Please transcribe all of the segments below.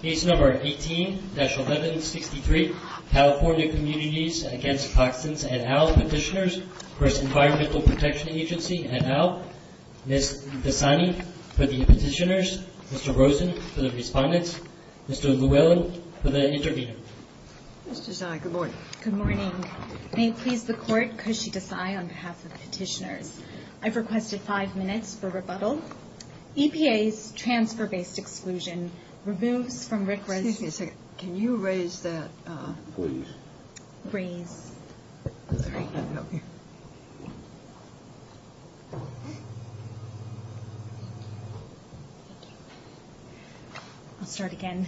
Case No. 18-1163, California Communities Against Toxins et al. Petitioners v. Environmental Protection Agency et al. Ms. Dasani for the petitioners, Mr. Rosen for the respondents, Mr. Llewellyn for the intervener. Mr. Tsai, good morning. Good morning. May it please the Court, Kushi Tsai on behalf of the petitioners. I've requested five minutes for rebuttal. EPA's transfer-based exclusion removes from RCRA's Excuse me a second. Can you raise that please? Raise. Sorry. I'll start again.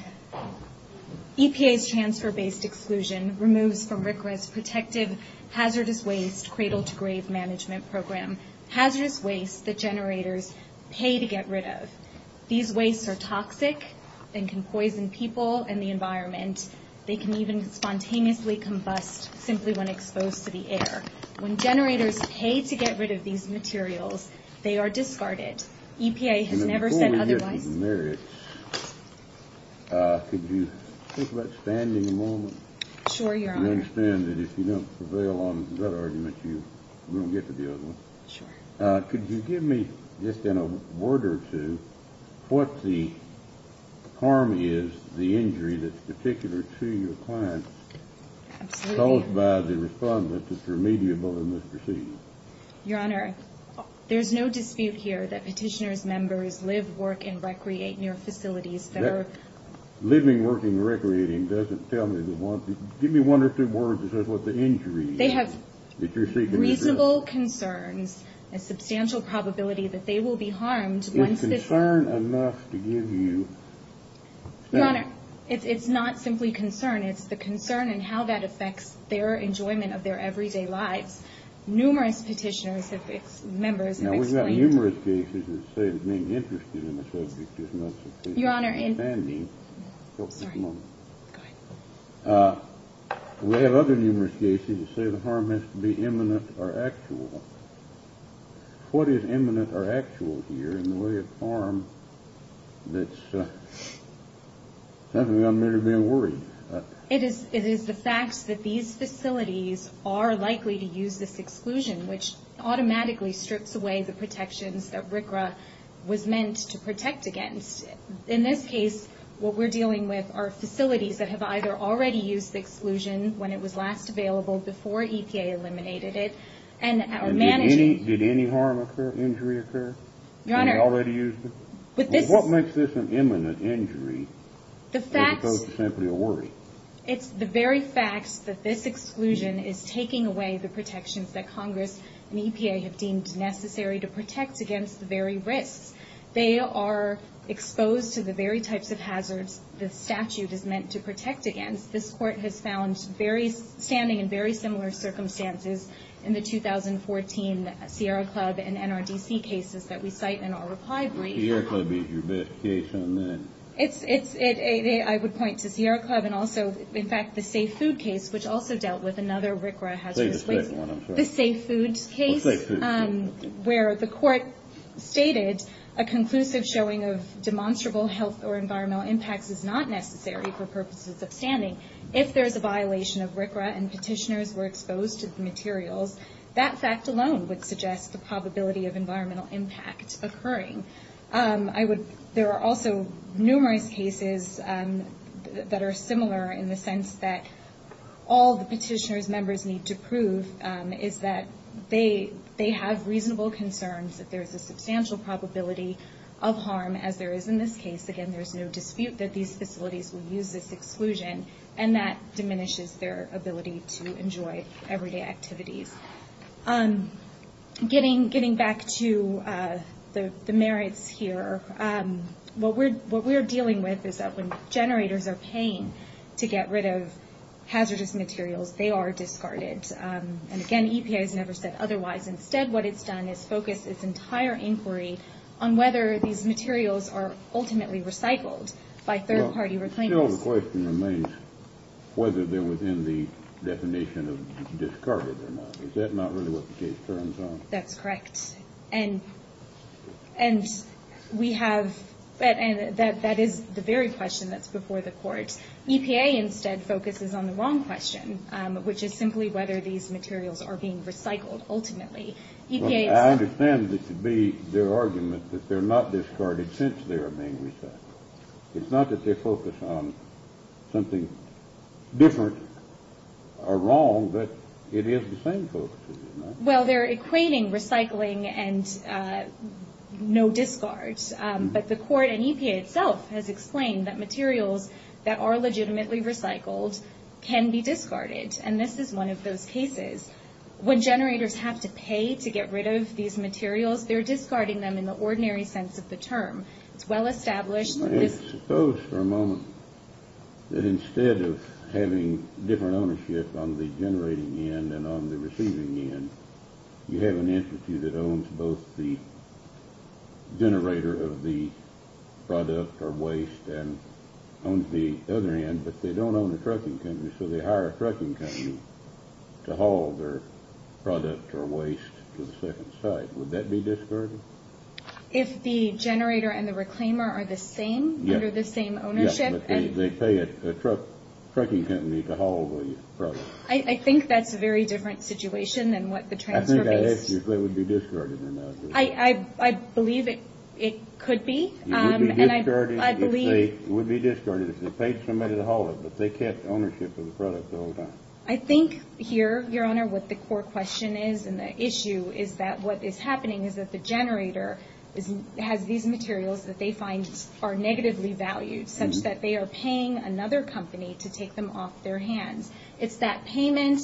EPA's transfer-based exclusion removes from RCRA's protective hazardous waste cradle-to-grave management program hazardous waste that generators pay to get rid of. These wastes are toxic and can poison people and the environment. They can even spontaneously combust simply when exposed to the air. When generators pay to get rid of these materials, they are discarded. EPA has never said otherwise. In the merits, could you think about standing a moment? Sure, Your Honor. I understand that if you don't prevail on that argument, you won't get to the other one. Sure. Could you give me just in a word or two what the harm is, the injury that's particular to your client Absolutely. caused by the respondent that's remediable in this proceeding? Your Honor, there's no dispute here that petitioner's members live, work, and recreate near facilities that are Living, working, and recreating doesn't tell me the harm. Give me one or two words that says what the injury is They have reasonable concerns, a substantial probability that they will be harmed once this Is concern enough to give you Your Honor, it's not simply concern. It's the concern and how that affects their enjoyment of their everyday lives. Numerous petitioner's members have explained Now, we've got numerous cases that say that being interested in the subject is not sufficient Your Honor, in Sorry. Go ahead. We have other numerous cases that say the harm has to be imminent or actual. What is imminent or actual here in the way of harm that's something I'm really being worried about? It is the fact that these facilities are likely to use this exclusion, which automatically strips away the protections that RCRA was meant to protect against. In this case, what we're dealing with are facilities that have either already used the exclusion when it was last available before EPA eliminated it, and are managing Did any harm occur, injury occur? Your Honor And they already used it? What makes this an imminent injury as opposed to simply a worry? It's the very fact that this exclusion is taking away the protections that Congress and EPA have deemed necessary to protect against the very risks. They are exposed to the very types of hazards the statute is meant to protect against. This Court has found standing in very similar circumstances in the 2014 Sierra Club and NRDC cases that we cite in our reply brief. Sierra Club being your best case on that? I would point to Sierra Club and also, in fact, the Safe Food case, which also dealt with another RCRA hazard. The Safe Food case? Where the Court stated a conclusive showing of demonstrable health or environmental impacts is not necessary for purposes of standing. If there is a violation of RCRA and petitioners were exposed to the materials, that fact alone would suggest the probability of environmental impact occurring. There are also numerous cases that are similar in the sense that all the petitioners' members need to prove is that they have reasonable concerns that there is a substantial probability of harm as there is in this case. Again, there is no dispute that these facilities will use this exclusion, and that diminishes their ability to enjoy everyday activities. Getting back to the merits here, what we're dealing with is that when generators are paying to get rid of hazardous materials, they are discarded. Again, EPA has never said otherwise. Instead, what it's done is focus its entire inquiry on whether these materials are ultimately recycled by third-party reclaimers. But still the question remains whether they're within the definition of discarded or not. Is that not really what the case turns on? That's correct. And we have – and that is the very question that's before the Court. EPA instead focuses on the wrong question, which is simply whether these materials are being recycled, ultimately. EPA is – I understand that to be their argument that they're not discarded since they're being recycled. It's not that they focus on something different or wrong, but it is the same focus, is it not? Well, they're equating recycling and no discards. But the Court and EPA itself has explained that materials that are legitimately recycled can be discarded, and this is one of those cases. When generators have to pay to get rid of these materials, they're discarding them in the ordinary sense of the term. It's well established that this – Suppose for a moment that instead of having different ownership on the generating end and on the receiving end, you have an entity that owns both the generator of the product or waste and owns the other end, but they don't own a trucking company, so they hire a trucking company to haul their product or waste to the second site. Would that be discarded? If the generator and the reclaimer are the same, under the same ownership? Yes, but they pay a trucking company to haul the product. I think that's a very different situation than what the transfer base – I think I asked you if they would be discarded or not. I believe it could be, and I believe – It would be discarded if they paid somebody to haul it, but they kept ownership of the product the whole time. I think here, Your Honor, what the core question is and the issue is that what is happening is that the generator has these materials that they find are negatively valued, such that they are paying another company to take them off their hands. It's that payment,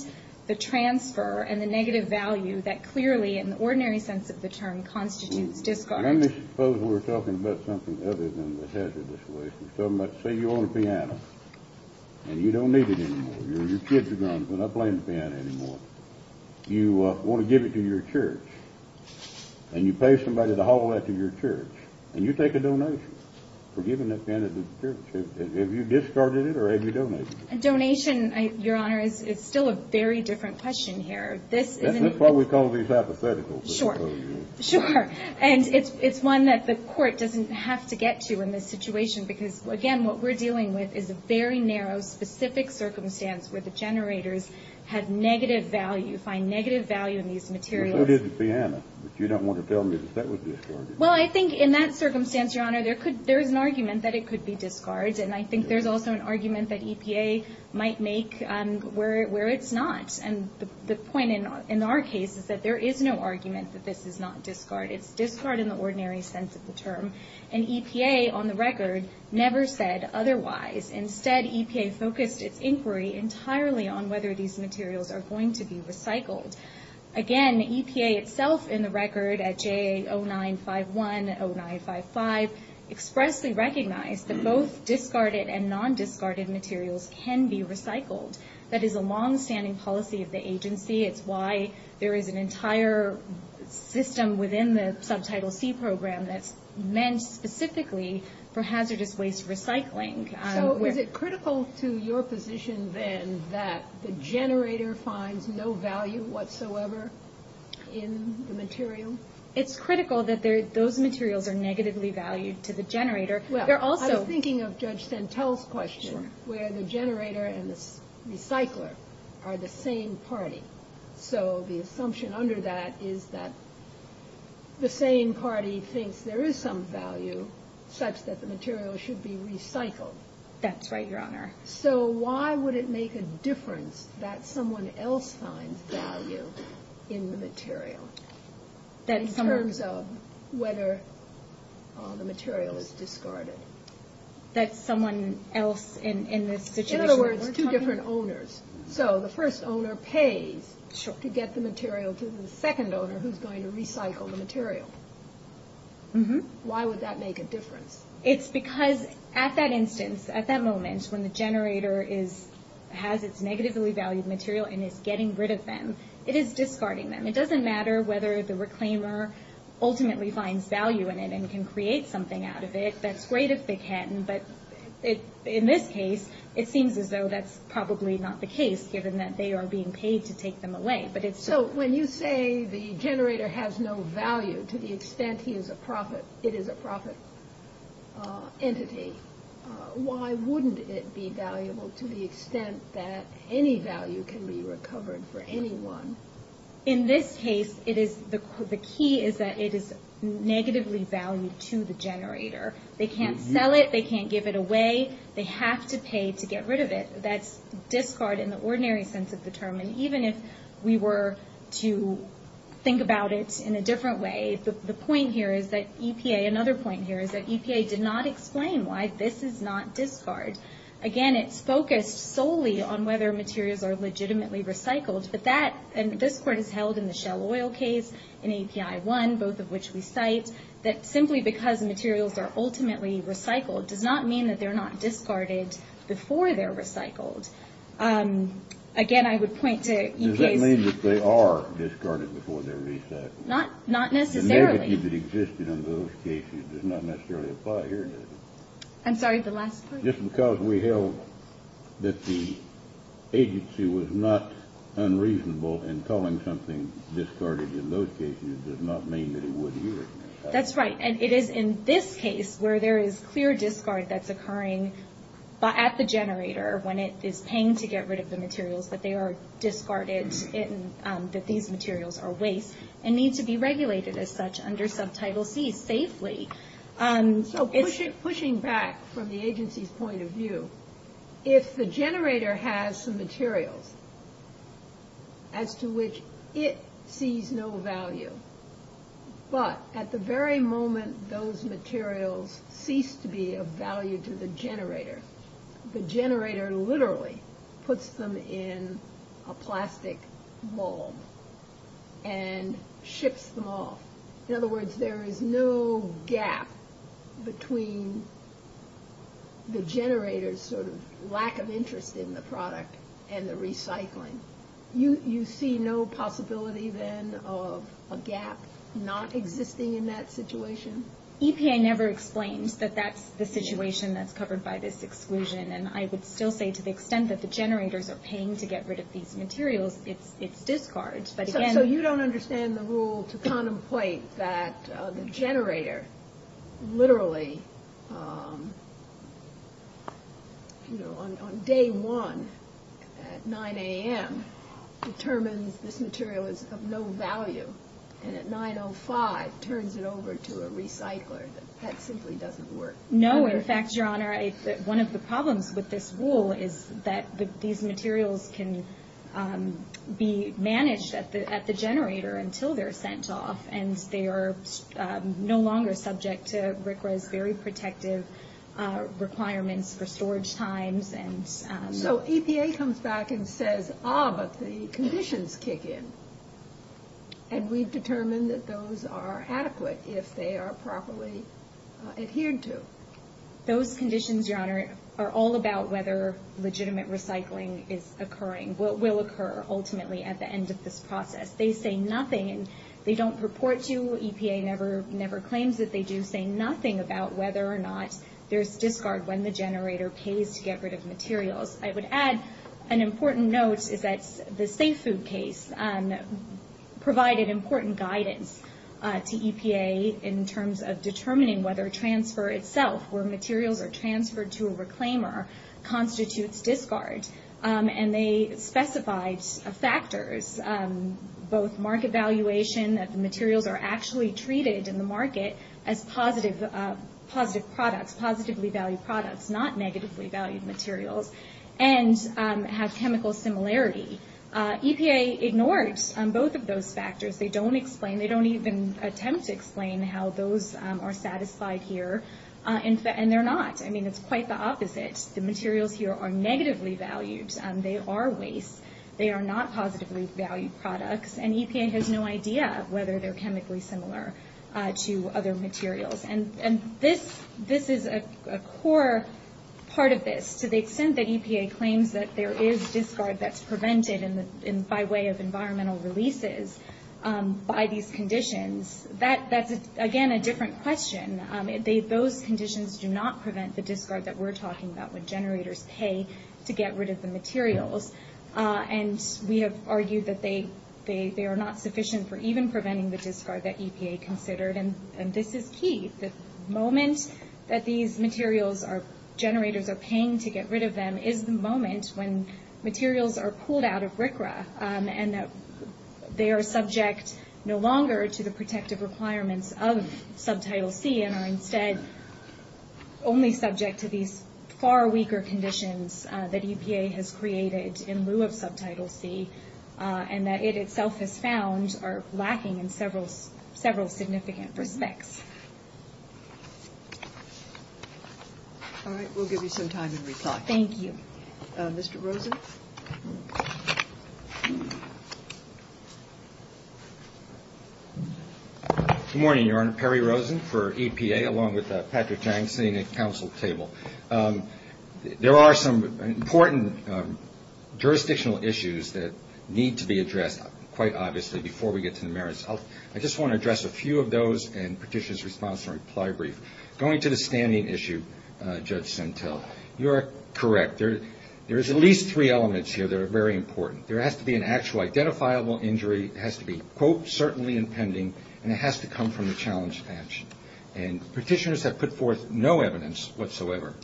the transfer, and the negative value that clearly, in the ordinary sense of the term, constitutes discard. Let me suppose we're talking about something other than the hazardous waste. Let's say you own a piano, and you don't need it anymore. Your kids are grown up and they're not playing the piano anymore. You want to give it to your church, and you pay somebody to haul that to your church, and you take a donation for giving that piano to the church. Have you discarded it, or have you donated it? A donation, Your Honor, is still a very different question here. That's why we call these hypothetical. Sure, and it's one that the court doesn't have to get to in this situation because, again, what we're dealing with is a very narrow, specific circumstance where the generators have negative value, find negative value in these materials. So did the piano, but you don't want to tell me that that was discarded. Well, I think in that circumstance, Your Honor, there is an argument that it could be discarded, and I think there's also an argument that EPA might make where it's not. And the point in our case is that there is no argument that this is not discarded. It's discard in the ordinary sense of the term, and EPA, on the record, never said otherwise. Instead, EPA focused its inquiry entirely on whether these materials are going to be recycled. Again, EPA itself in the record at JA0951 and 0955 expressly recognized that both discarded and non-discarded materials can be recycled. That is a longstanding policy of the agency. It's why there is an entire system within the Subtitle C program that's meant specifically for hazardous waste recycling. So is it critical to your position, then, that the generator finds no value whatsoever in the material? It's critical that those materials are negatively valued to the generator. They're also — Well, I was thinking of Judge Santel's question where the generator and the recycler are the same party. So the assumption under that is that the same party thinks there is some value such that the material should be recycled. That's right, Your Honor. So why would it make a difference that someone else finds value in the material? In terms of whether the material is discarded. That someone else in this situation — In other words, two different owners. So the first owner pays to get the material to the second owner who's going to recycle the material. Why would that make a difference? It's because at that instance, at that moment, when the generator has its negatively valued material and is getting rid of them, it is discarding them. It doesn't matter whether the reclaimer ultimately finds value in it and can create something out of it. That's great if they can. But in this case, it seems as though that's probably not the case, given that they are being paid to take them away. So when you say the generator has no value to the extent it is a profit entity, why wouldn't it be valuable to the extent that any value can be recovered for anyone? In this case, the key is that it is negatively valued to the generator. They can't sell it. They can't give it away. They have to pay to get rid of it. That's discard in the ordinary sense of the term. And even if we were to think about it in a different way, the point here is that EPA — another point here is that EPA did not explain why this is not discard. Again, it's focused solely on whether materials are legitimately recycled. But that — and this Court has held in the Shell Oil case, in API 1, both of which we cite, that simply because materials are ultimately recycled does not mean that they're not discarded before they're recycled. Again, I would point to EPA's — Does that mean that they are discarded before they're recycled? Not necessarily. The negative that existed in those cases does not necessarily apply here, does it? I'm sorry, the last part. Just because we held that the agency was not unreasonable in calling something discarded in those cases does not mean that it would here. That's right. And it is in this case where there is clear discard that's occurring at the generator when it is paying to get rid of the materials, that they are discarded and that these materials are waste and need to be regulated as such under Subtitle C safely. So pushing back from the agency's point of view, if the generator has some materials as to which it sees no value, but at the very moment those materials cease to be of value to the generator, the generator literally puts them in a plastic mold and ships them off. In other words, there is no gap between the generator's sort of lack of interest in the product and the recycling. You see no possibility then of a gap not existing in that situation? EPA never explains that that's the situation that's covered by this exclusion. And I would still say to the extent that the generators are paying to get rid of these materials, it's discarded. So you don't understand the rule to contemplate that the generator literally on day one at 9 a.m. determines this material is of no value and at 9.05 turns it over to a recycler. That simply doesn't work. No. In fact, Your Honor, one of the problems with this rule is that these materials can be managed at the generator until they're sent off. And they are no longer subject to RCRA's very protective requirements for storage times. So EPA comes back and says, ah, but the conditions kick in. And we've determined that those are adequate if they are properly adhered to. Those conditions, Your Honor, are all about whether legitimate recycling is occurring, what will occur ultimately at the end of this process. They say nothing and they don't report to you. EPA never claims that they do say nothing about whether or not there's discard when the generator pays to get rid of materials. I would add an important note is that the Safe Food case provided important guidance to EPA in terms of determining whether transfer itself, where materials are transferred to a reclaimer, constitutes discard. And they specified factors, both market valuation, that the materials are actually treated in the market as positive products, positively valued products, not negatively valued materials, and have chemical similarity. EPA ignored both of those factors. They don't even attempt to explain how those are satisfied here, and they're not. I mean, it's quite the opposite. The materials here are negatively valued. They are waste. They are not positively valued products. And EPA has no idea whether they're chemically similar to other materials. And this is a core part of this. To the extent that EPA claims that there is discard that's prevented by way of environmental releases by these conditions, that's, again, a different question. Those conditions do not prevent the discard that we're talking about when generators pay to get rid of the materials. And we have argued that they are not sufficient for even preventing the discard that EPA considered. And this is key. The moment that these materials are generators are paying to get rid of them is the moment when materials are pulled out of RCRA and they are subject no longer to the protective requirements of Subtitle C and are instead only subject to these far weaker conditions that EPA has created in lieu of Subtitle C and that it itself has found are lacking in several significant respects. All right. We'll give you some time to reply. Thank you. Mr. Rosen? Good morning, Your Honor. Perry Rosen for EPA along with Patrick Jang sitting at the council table. There are some important jurisdictional issues that need to be addressed, quite obviously, before we get to the merits. I just want to address a few of those and petitioner's response and reply brief. Going to the standing issue, Judge Sentelle, you are correct. There is at least three elements here that are very important. There has to be an actual identifiable injury. It has to be, quote, certainly impending, and it has to come from the challenge patch. And petitioners have put forth no evidence whatsoever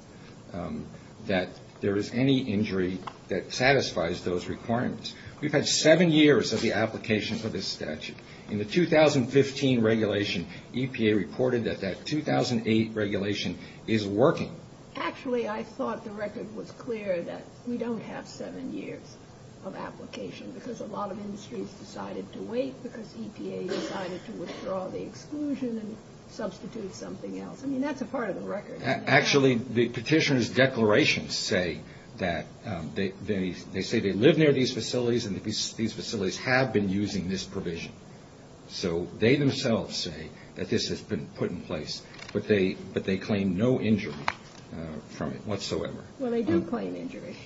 that there is any injury that satisfies those requirements. We've had seven years of the application for this statute. In the 2015 regulation, EPA reported that that 2008 regulation is working. Actually, I thought the record was clear that we don't have seven years of application because a lot of industries decided to wait because EPA decided to withdraw the exclusion and substitute something else. I mean, that's a part of the record. Actually, the petitioner's declarations say that they say they live near these facilities and these facilities have been using this provision. So they themselves say that this has been put in place, but they claim no injury from it whatsoever. Well, they do claim injury.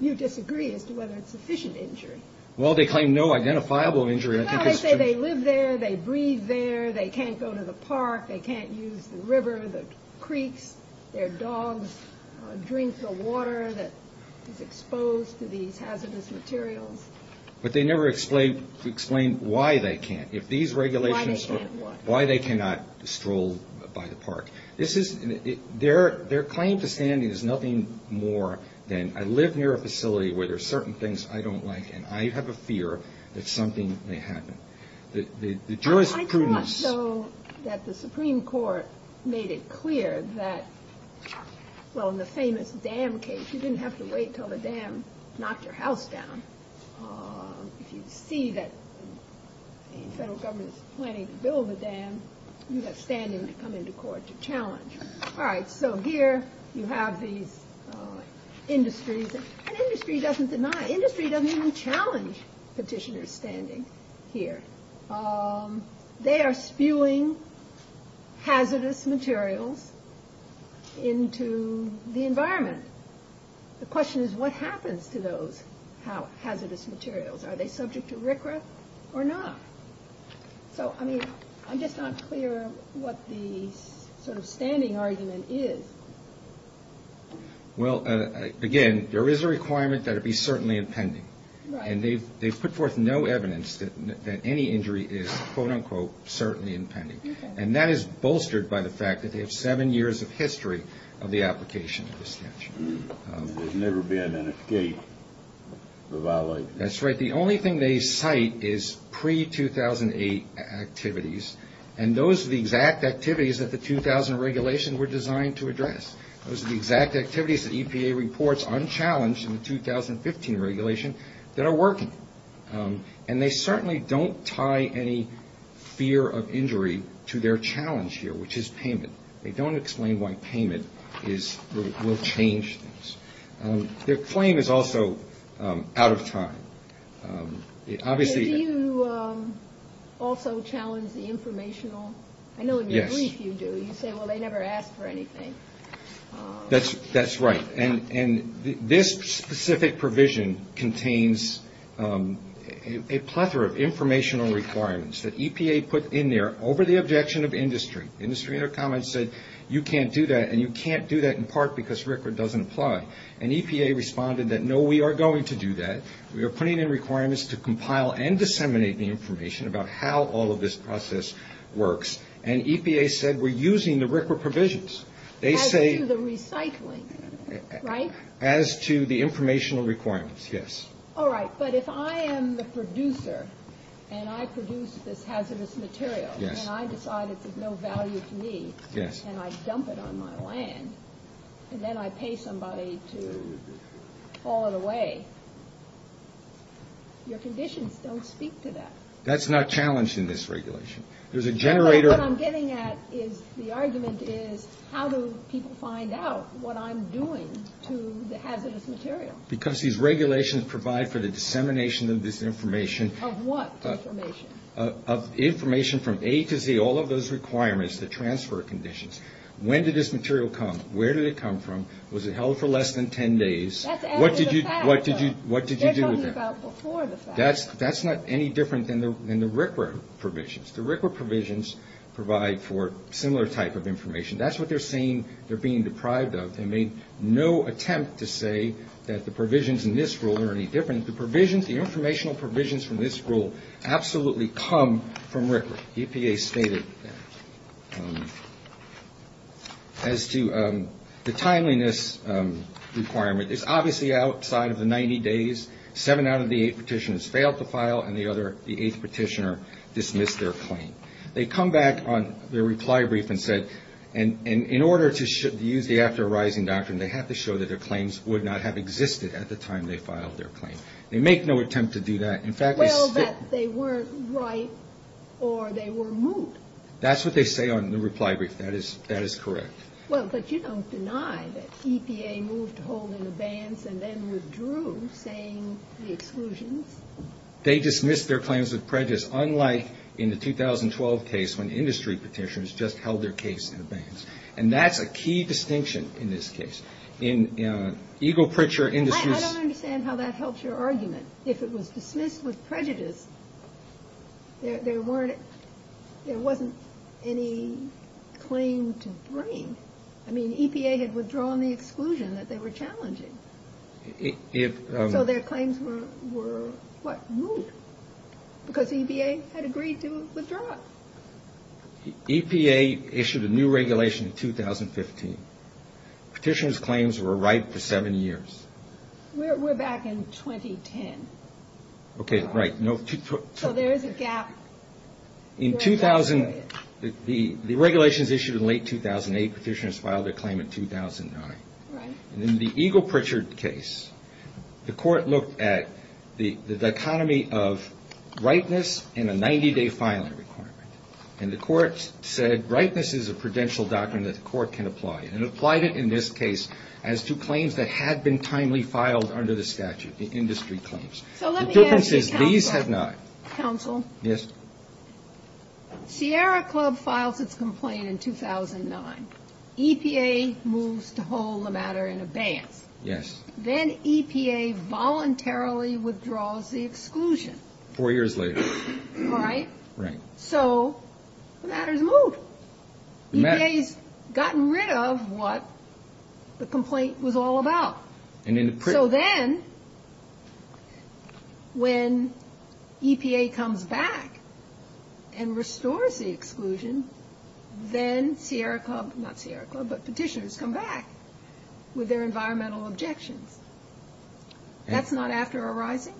You disagree as to whether it's sufficient injury. Well, they claim no identifiable injury. No, they say they live there. They breathe there. They can't go to the park. They can't use the river, the creeks. Their dogs drink the water that is exposed to these hazardous materials. But they never explain why they can't. Why they can't what? Why they cannot stroll by the park. Their claim to standing is nothing more than I live near a facility where there are certain things I don't like, and I have a fear that something may happen. I thought, though, that the Supreme Court made it clear that, well, in the famous dam case, you didn't have to wait until the dam knocked your house down. If you see that the federal government is planning to build a dam, you have standing to come into court to challenge. All right. So here you have these industries. An industry doesn't deny. Industry doesn't even challenge petitioners' standing here. They are spewing hazardous materials into the environment. The question is what happens to those hazardous materials? Are they subject to RCRA or not? So, I mean, I'm just not clear what the sort of standing argument is. Well, again, there is a requirement that it be certainly impending. Right. And they've put forth no evidence that any injury is, quote, unquote, certainly impending. Okay. And that is bolstered by the fact that they have seven years of history of the application of the statute. There's never been an escape for violations. That's right. The only thing they cite is pre-2008 activities, and those are the exact activities that the 2000 regulations were designed to address. Those are the exact activities that EPA reports unchallenged in the 2015 regulation that are working. And they certainly don't tie any fear of injury to their challenge here, which is payment. They don't explain why payment will change things. Their claim is also out of time. Do you also challenge the informational? Yes. I know in your brief you do. You say, well, they never ask for anything. That's right. And this specific provision contains a plethora of informational requirements that EPA put in there over the objection of industry. Industry in their comments said, you can't do that, and you can't do that in part because RCRA doesn't apply. And EPA responded that, no, we are going to do that. We are putting in requirements to compile and disseminate the information about how all of this process works. And EPA said, we're using the RCRA provisions. As to the recycling, right? As to the informational requirements, yes. All right. But if I am the producer, and I produce this hazardous material, and I decide it's of no value to me, and I dump it on my land, and then I pay somebody to haul it away, your conditions don't speak to that. That's not challenged in this regulation. What I'm getting at is the argument is, how do people find out what I'm doing to the hazardous material? Because these regulations provide for the dissemination of this information. Of what information? Of information from A to Z, all of those requirements, the transfer conditions. When did this material come? Where did it come from? Was it held for less than 10 days? That's after the fact. What did you do with it? They're talking about before the fact. That's not any different than the RCRA provisions. The RCRA provisions provide for similar type of information. That's what they're saying they're being deprived of. They made no attempt to say that the provisions in this rule are any different. The provisions, the informational provisions from this rule absolutely come from RCRA. EPA stated that. As to the timeliness requirement, it's obviously outside of the 90 days. Seven out of the eight petitioners failed to file, and the eighth petitioner dismissed their claim. They come back on their reply brief and said, in order to use the after arising doctrine, they have to show that their claims would not have existed at the time they filed their claim. They make no attempt to do that. Well, that they weren't right or they were moot. That's what they say on the reply brief. That is correct. Well, but you don't deny that EPA moved to hold an abeyance and then withdrew, saying the exclusions. They dismissed their claims with prejudice, unlike in the 2012 case when industry petitioners just held their case in abeyance. And that's a key distinction in this case. In ego preacher industries. If it was dismissed with prejudice, there wasn't any claim to bring. I mean, EPA had withdrawn the exclusion that they were challenging. So their claims were what? Moot. Because EPA had agreed to withdraw it. EPA issued a new regulation in 2015. Petitioners' claims were ripe for seven years. We're back in 2010. Okay. Right. So there is a gap. In 2000, the regulations issued in late 2008, petitioners filed their claim in 2009. Right. In the ego preacher case, the court looked at the dichotomy of ripeness and a 90-day filing requirement. And the court said ripeness is a prudential doctrine that the court can apply. And it applied it in this case as to claims that had been timely filed under the statute, the industry claims. So let me ask you, counsel. The difference is these have not. Counsel. Yes. Sierra Club files its complaint in 2009. EPA moves to hold the matter in abeyance. Yes. Then EPA voluntarily withdraws the exclusion. Four years later. Right. Right. So the matter's moved. EPA's gotten rid of what the complaint was all about. So then when EPA comes back and restores the exclusion, then Sierra Club, not Sierra Club, but petitioners come back with their environmental objections. That's not after a rising?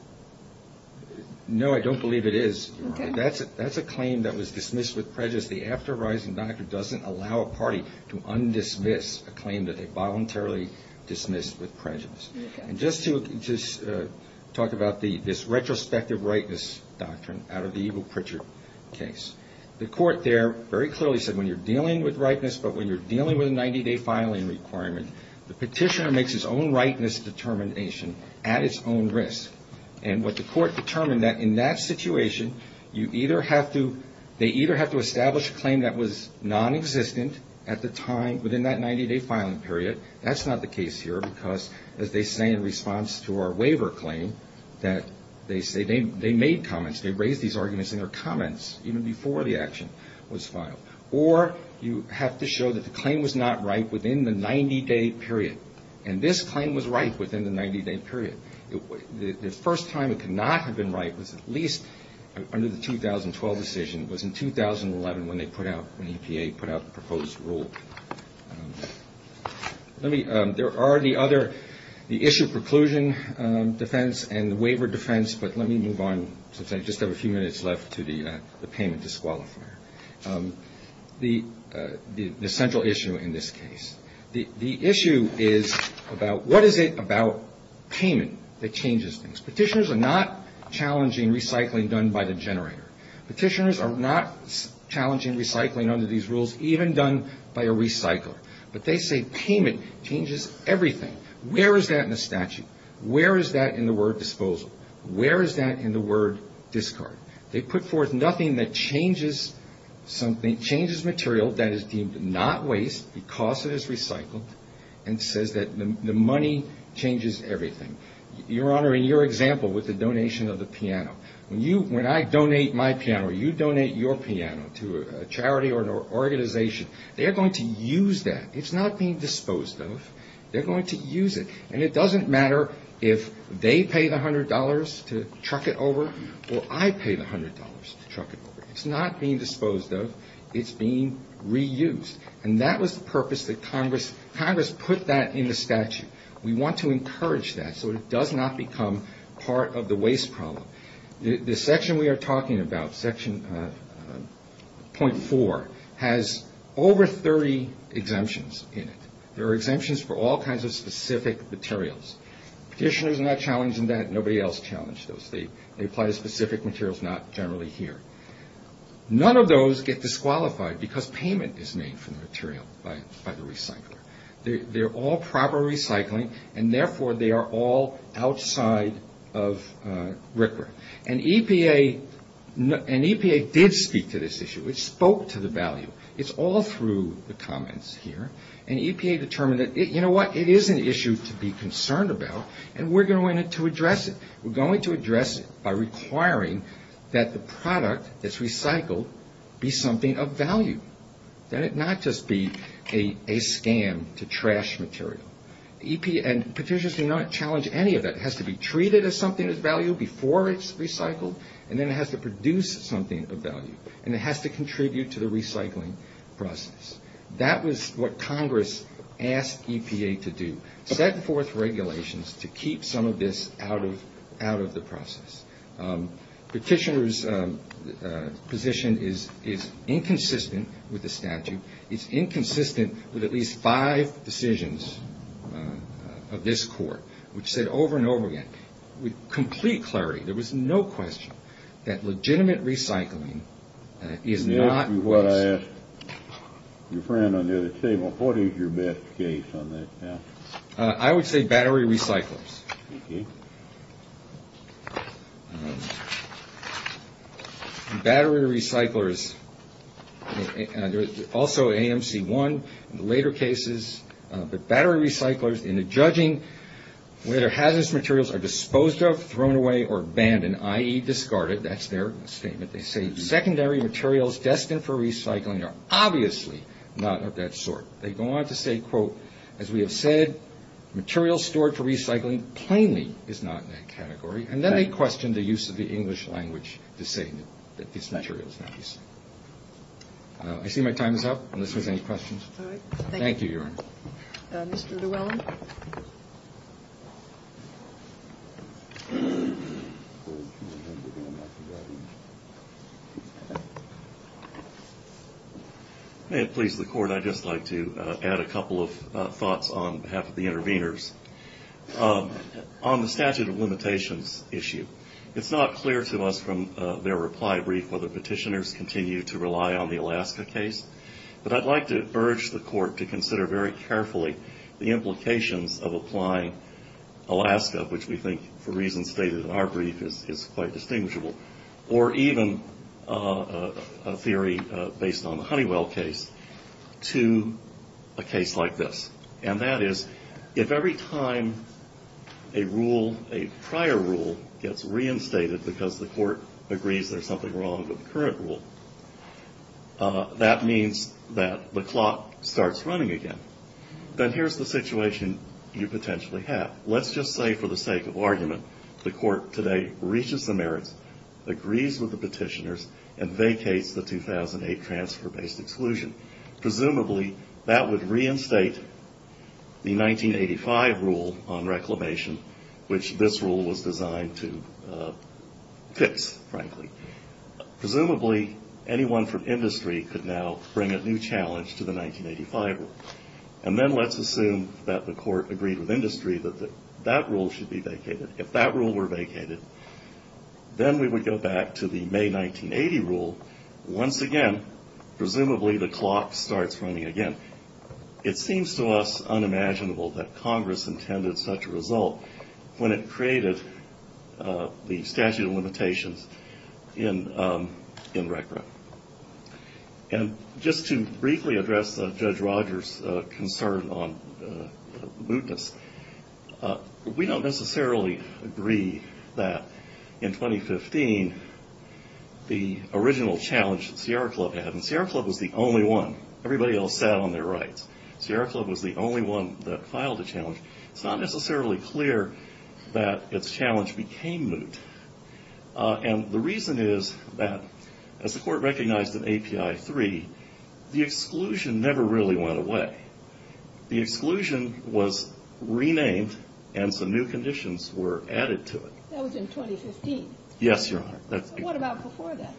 No, I don't believe it is. Okay. That's a claim that was dismissed with prejudice. The after a rising doctrine doesn't allow a party to undismiss a claim that they voluntarily dismissed with prejudice. Okay. And just to talk about this retrospective ripeness doctrine out of the evil Pritchard case. The court there very clearly said when you're dealing with ripeness, but when you're dealing with a 90-day filing requirement, the petitioner makes his own ripeness determination at its own risk. And what the court determined that in that situation, you either have to, they either have to establish a claim that was non-existent at the time, within that 90-day filing period. That's not the case here because, as they say in response to our waiver claim, that they say they made comments, they raised these arguments in their comments even before the action was filed. Or you have to show that the claim was not right within the 90-day period. And this claim was right within the 90-day period. The first time it could not have been right was at least under the 2012 decision, was in 2011 when they put out, when EPA put out the proposed rule. Let me, there are the other, the issue preclusion defense and the waiver defense, but let me move on since I just have a few minutes left to the payment disqualifier. The central issue in this case. The issue is about what is it about payment that changes things. Petitioners are not challenging recycling done by the generator. Petitioners are not challenging recycling under these rules, even done by a recycler. But they say payment changes everything. Where is that in the statute? Where is that in the word disposal? Where is that in the word discard? They put forth nothing that changes material that is deemed not waste because it is recycled and says that the money changes everything. Your Honor, in your example with the donation of the piano, when I donate my piano or you donate your piano to a charity or an organization, they are going to use that. It's not being disposed of. They're going to use it. And it doesn't matter if they pay the $100 to truck it over or I pay the $100 to truck it over. It's not being disposed of. It's being reused. And that was the purpose that Congress put that in the statute. We want to encourage that so it does not become part of the waste problem. The section we are talking about, section .4, has over 30 exemptions in it. There are exemptions for all kinds of specific materials. Petitioners are not challenged in that. Nobody else challenged those. They apply to specific materials, not generally here. None of those get disqualified because payment is made for the material by the recycler. They're all proper recycling, and therefore they are all outside of RCRA. And EPA did speak to this issue. It spoke to the value. It's all through the comments here. And EPA determined that, you know what? It is an issue to be concerned about, and we're going to address it. We're going to address it by requiring that the product that's recycled be something of value, that it not just be a scam to trash material. And petitioners do not challenge any of that. It has to be treated as something of value before it's recycled, and then it has to produce something of value, and it has to contribute to the recycling process. That was what Congress asked EPA to do, set forth regulations to keep some of this out of the process. Petitioners' position is inconsistent with the statute. It's inconsistent with at least five decisions of this court, which said over and over again, with complete clarity, there was no question that legitimate recycling is not. And this is what I asked your friend on the other table. What is your best case on that? I would say battery recyclers. Battery recyclers, also AMC-1 in the later cases, but battery recyclers, in the judging, whether hazardous materials are disposed of, thrown away, or abandoned, i.e., discarded, that's their statement, they say secondary materials destined for recycling are obviously not of that sort. They go on to say, quote, as we have said, materials stored for recycling plainly is not in that category. And then they question the use of the English language to say that this material is not used. I see my time is up, unless there's any questions. All right. Thank you, Your Honor. Mr. Dwellin. May it please the Court, I'd just like to add a couple of thoughts on behalf of the interveners. On the statute of limitations issue, it's not clear to us from their reply brief whether petitioners continue to rely on the Alaska case, but I'd like to urge the Court to consider very carefully the implications of applying Alaska, which we think for reasons stated in our brief is quite distinguishable, or even a theory based on the Honeywell case, to a case like this. And that is, if every time a rule, a prior rule, gets reinstated because the Court agrees there's something wrong with the current rule, that means that the clock starts running again. Then here's the situation you potentially have. Let's just say for the sake of argument, the Court today reaches the merits, agrees with the petitioners, and vacates the 2008 transfer-based exclusion. Presumably, that would reinstate the 1985 rule on reclamation, which this rule was designed to fix, frankly. Presumably, anyone from industry could now bring a new challenge to the 1985 rule. And then let's assume that the Court agreed with industry that that rule should be vacated. If that rule were vacated, then we would go back to the May 1980 rule. Once again, presumably, the clock starts running again. It seems to us unimaginable that Congress intended such a result. When it created the statute of limitations in RECRA. And just to briefly address Judge Rogers' concern on mootness, we don't necessarily agree that in 2015, the original challenge that Sierra Club had, and Sierra Club was the only one. Everybody else sat on their rights. Sierra Club was the only one that filed a challenge. It's not necessarily clear that its challenge became moot. And the reason is that, as the Court recognized in API 3, the exclusion never really went away. The exclusion was renamed, and some new conditions were added to it. That was in 2015. Yes, Your Honor. What about before that?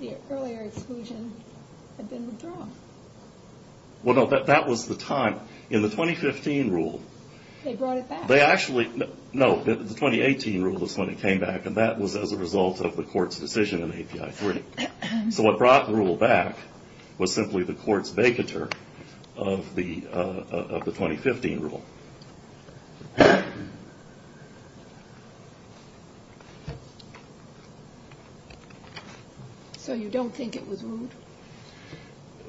The earlier exclusion had been withdrawn. Well, no, that was the time. In the 2015 rule. They brought it back. No, the 2018 rule was when it came back, and that was as a result of the Court's decision in API 3. So what brought the rule back was simply the Court's vacatur of the 2015 rule. So you don't think it was moot?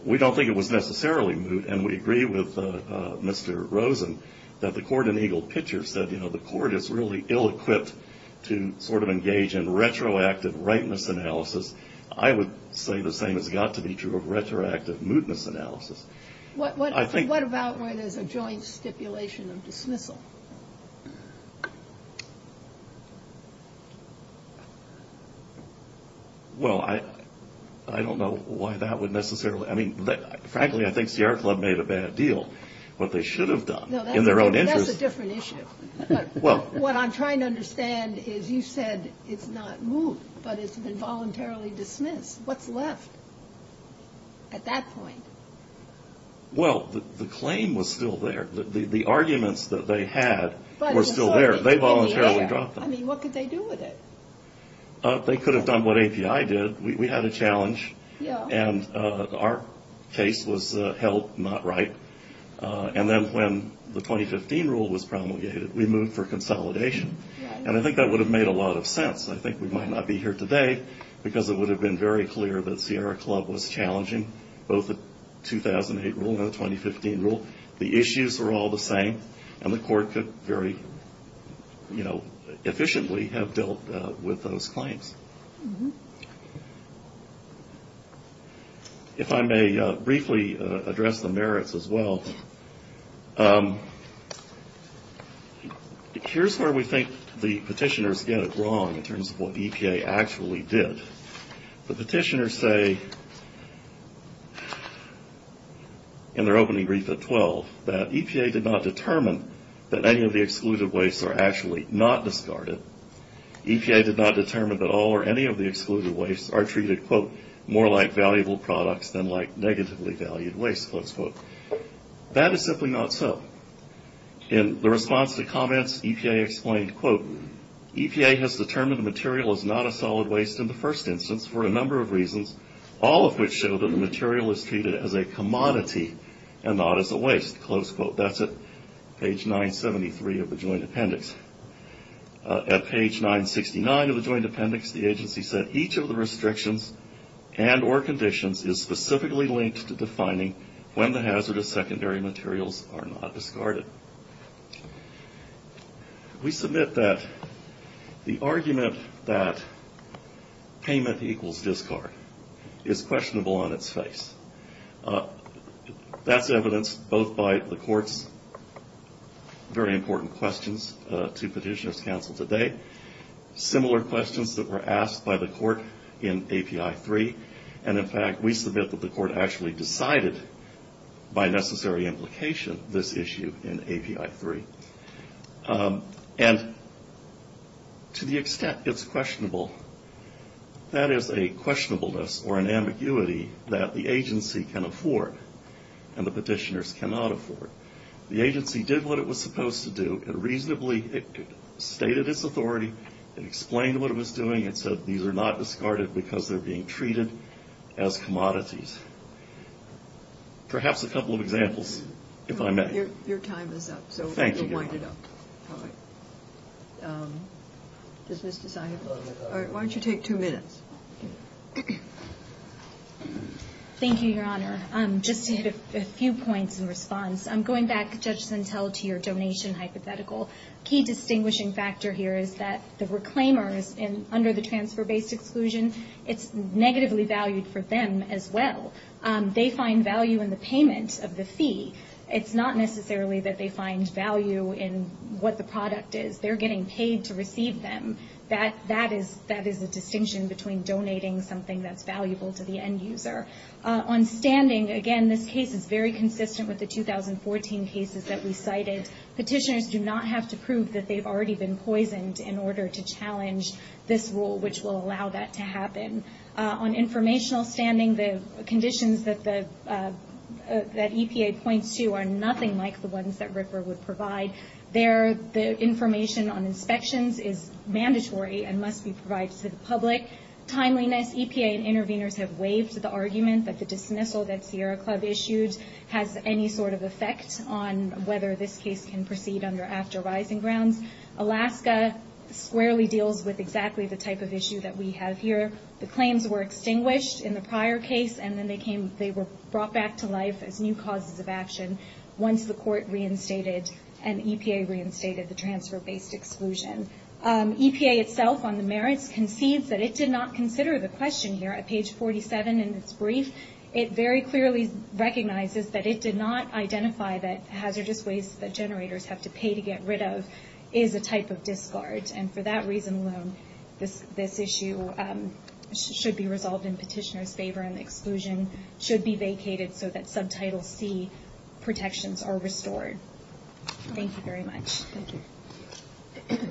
We don't think it was necessarily moot, and we agree with Mr. Rosen that the court in Eagle Pitcher said, you know, the court is really ill-equipped to sort of engage in retroactive rightness analysis. I would say the same has got to be true of retroactive mootness analysis. What about when there's a joint stipulation of dismissal? Well, I don't know why that would necessarily – I mean, frankly, I think Sierra Club made a bad deal. What they should have done in their own interest – No, that's a different issue. What I'm trying to understand is you said it's not moot, but it's been voluntarily dismissed. What's left at that point? Well, the claim was still there. The arguments that they had were still there. They voluntarily dropped them. I mean, what could they do with it? They could have done what API did. We had a challenge, and our case was held not right. And then when the 2015 rule was promulgated, we moved for consolidation. And I think that would have made a lot of sense. I think we might not be here today because it would have been very clear that Sierra Club was challenging both the 2008 rule and the 2015 rule. The issues were all the same, and the court could very, you know, efficiently have dealt with those claims. If I may briefly address the merits as well, here's where we think the petitioners get it wrong in terms of what EPA actually did. The petitioners say in their opening brief at 12 that EPA did not determine that any of the excluded wastes are actually not discarded. EPA did not determine that all or any of the excluded wastes are treated, quote, more like valuable products than like negatively valued wastes, close quote. That is simply not so. In the response to comments, EPA explained, quote, EPA has determined the material is not a solid waste in the first instance for a number of reasons, all of which show that the material is treated as a commodity and not as a waste, close quote. That's at page 973 of the joint appendix. At page 969 of the joint appendix, the agency said, Each of the restrictions and or conditions is specifically linked to defining when the hazardous secondary materials are not discarded. We submit that the argument that payment equals discard is questionable on its face. That's evidenced both by the court's very important questions to petitioners' counsel today, similar questions that were asked by the court in API 3, and in fact we submit that the court actually decided by necessary implication this issue in API 3. And to the extent it's questionable, that is a questionableness or an ambiguity that the agency can afford and the petitioners cannot afford. The agency did what it was supposed to do. It reasonably stated its authority. It explained what it was doing. It said these are not discarded because they're being treated as commodities. Perhaps a couple of examples, if I may. Your time is up. Thank you, Your Honor. So we'll wind it up. All right. Does Ms. Desaia? All right, why don't you take two minutes? Thank you, Your Honor. Just to hit a few points in response. I'm going back, Judge Sentelle, to your donation hypothetical. A key distinguishing factor here is that the reclaimers under the transfer-based exclusion, it's negatively valued for them as well. They find value in the payment of the fee. It's not necessarily that they find value in what the product is. They're getting paid to receive them. That is a distinction between donating something that's valuable to the end user. On standing, again, this case is very consistent with the 2014 cases that we cited. Petitioners do not have to prove that they've already been poisoned in order to challenge this rule, which will allow that to happen. On informational standing, the conditions that EPA points to are nothing like the ones that RFRA would provide. The information on inspections is mandatory and must be provided to the public. Timeliness, EPA and interveners have waived the argument that the dismissal that Sierra Club issued has any sort of effect on whether this case can proceed under after rising grounds. Alaska squarely deals with exactly the type of issue that we have here. The claims were extinguished in the prior case, and then they were brought back to life as new causes of action once the court reinstated and EPA reinstated the transfer-based exclusion. EPA itself, on the merits, concedes that it did not consider the question here. At page 47 in its brief, it very clearly recognizes that it did not identify that hazardous waste that generators have to pay to get rid of is a type of discard. For that reason alone, this issue should be resolved in petitioner's favor, and the exclusion should be vacated so that Subtitle C protections are restored. Thank you very much. Thank you.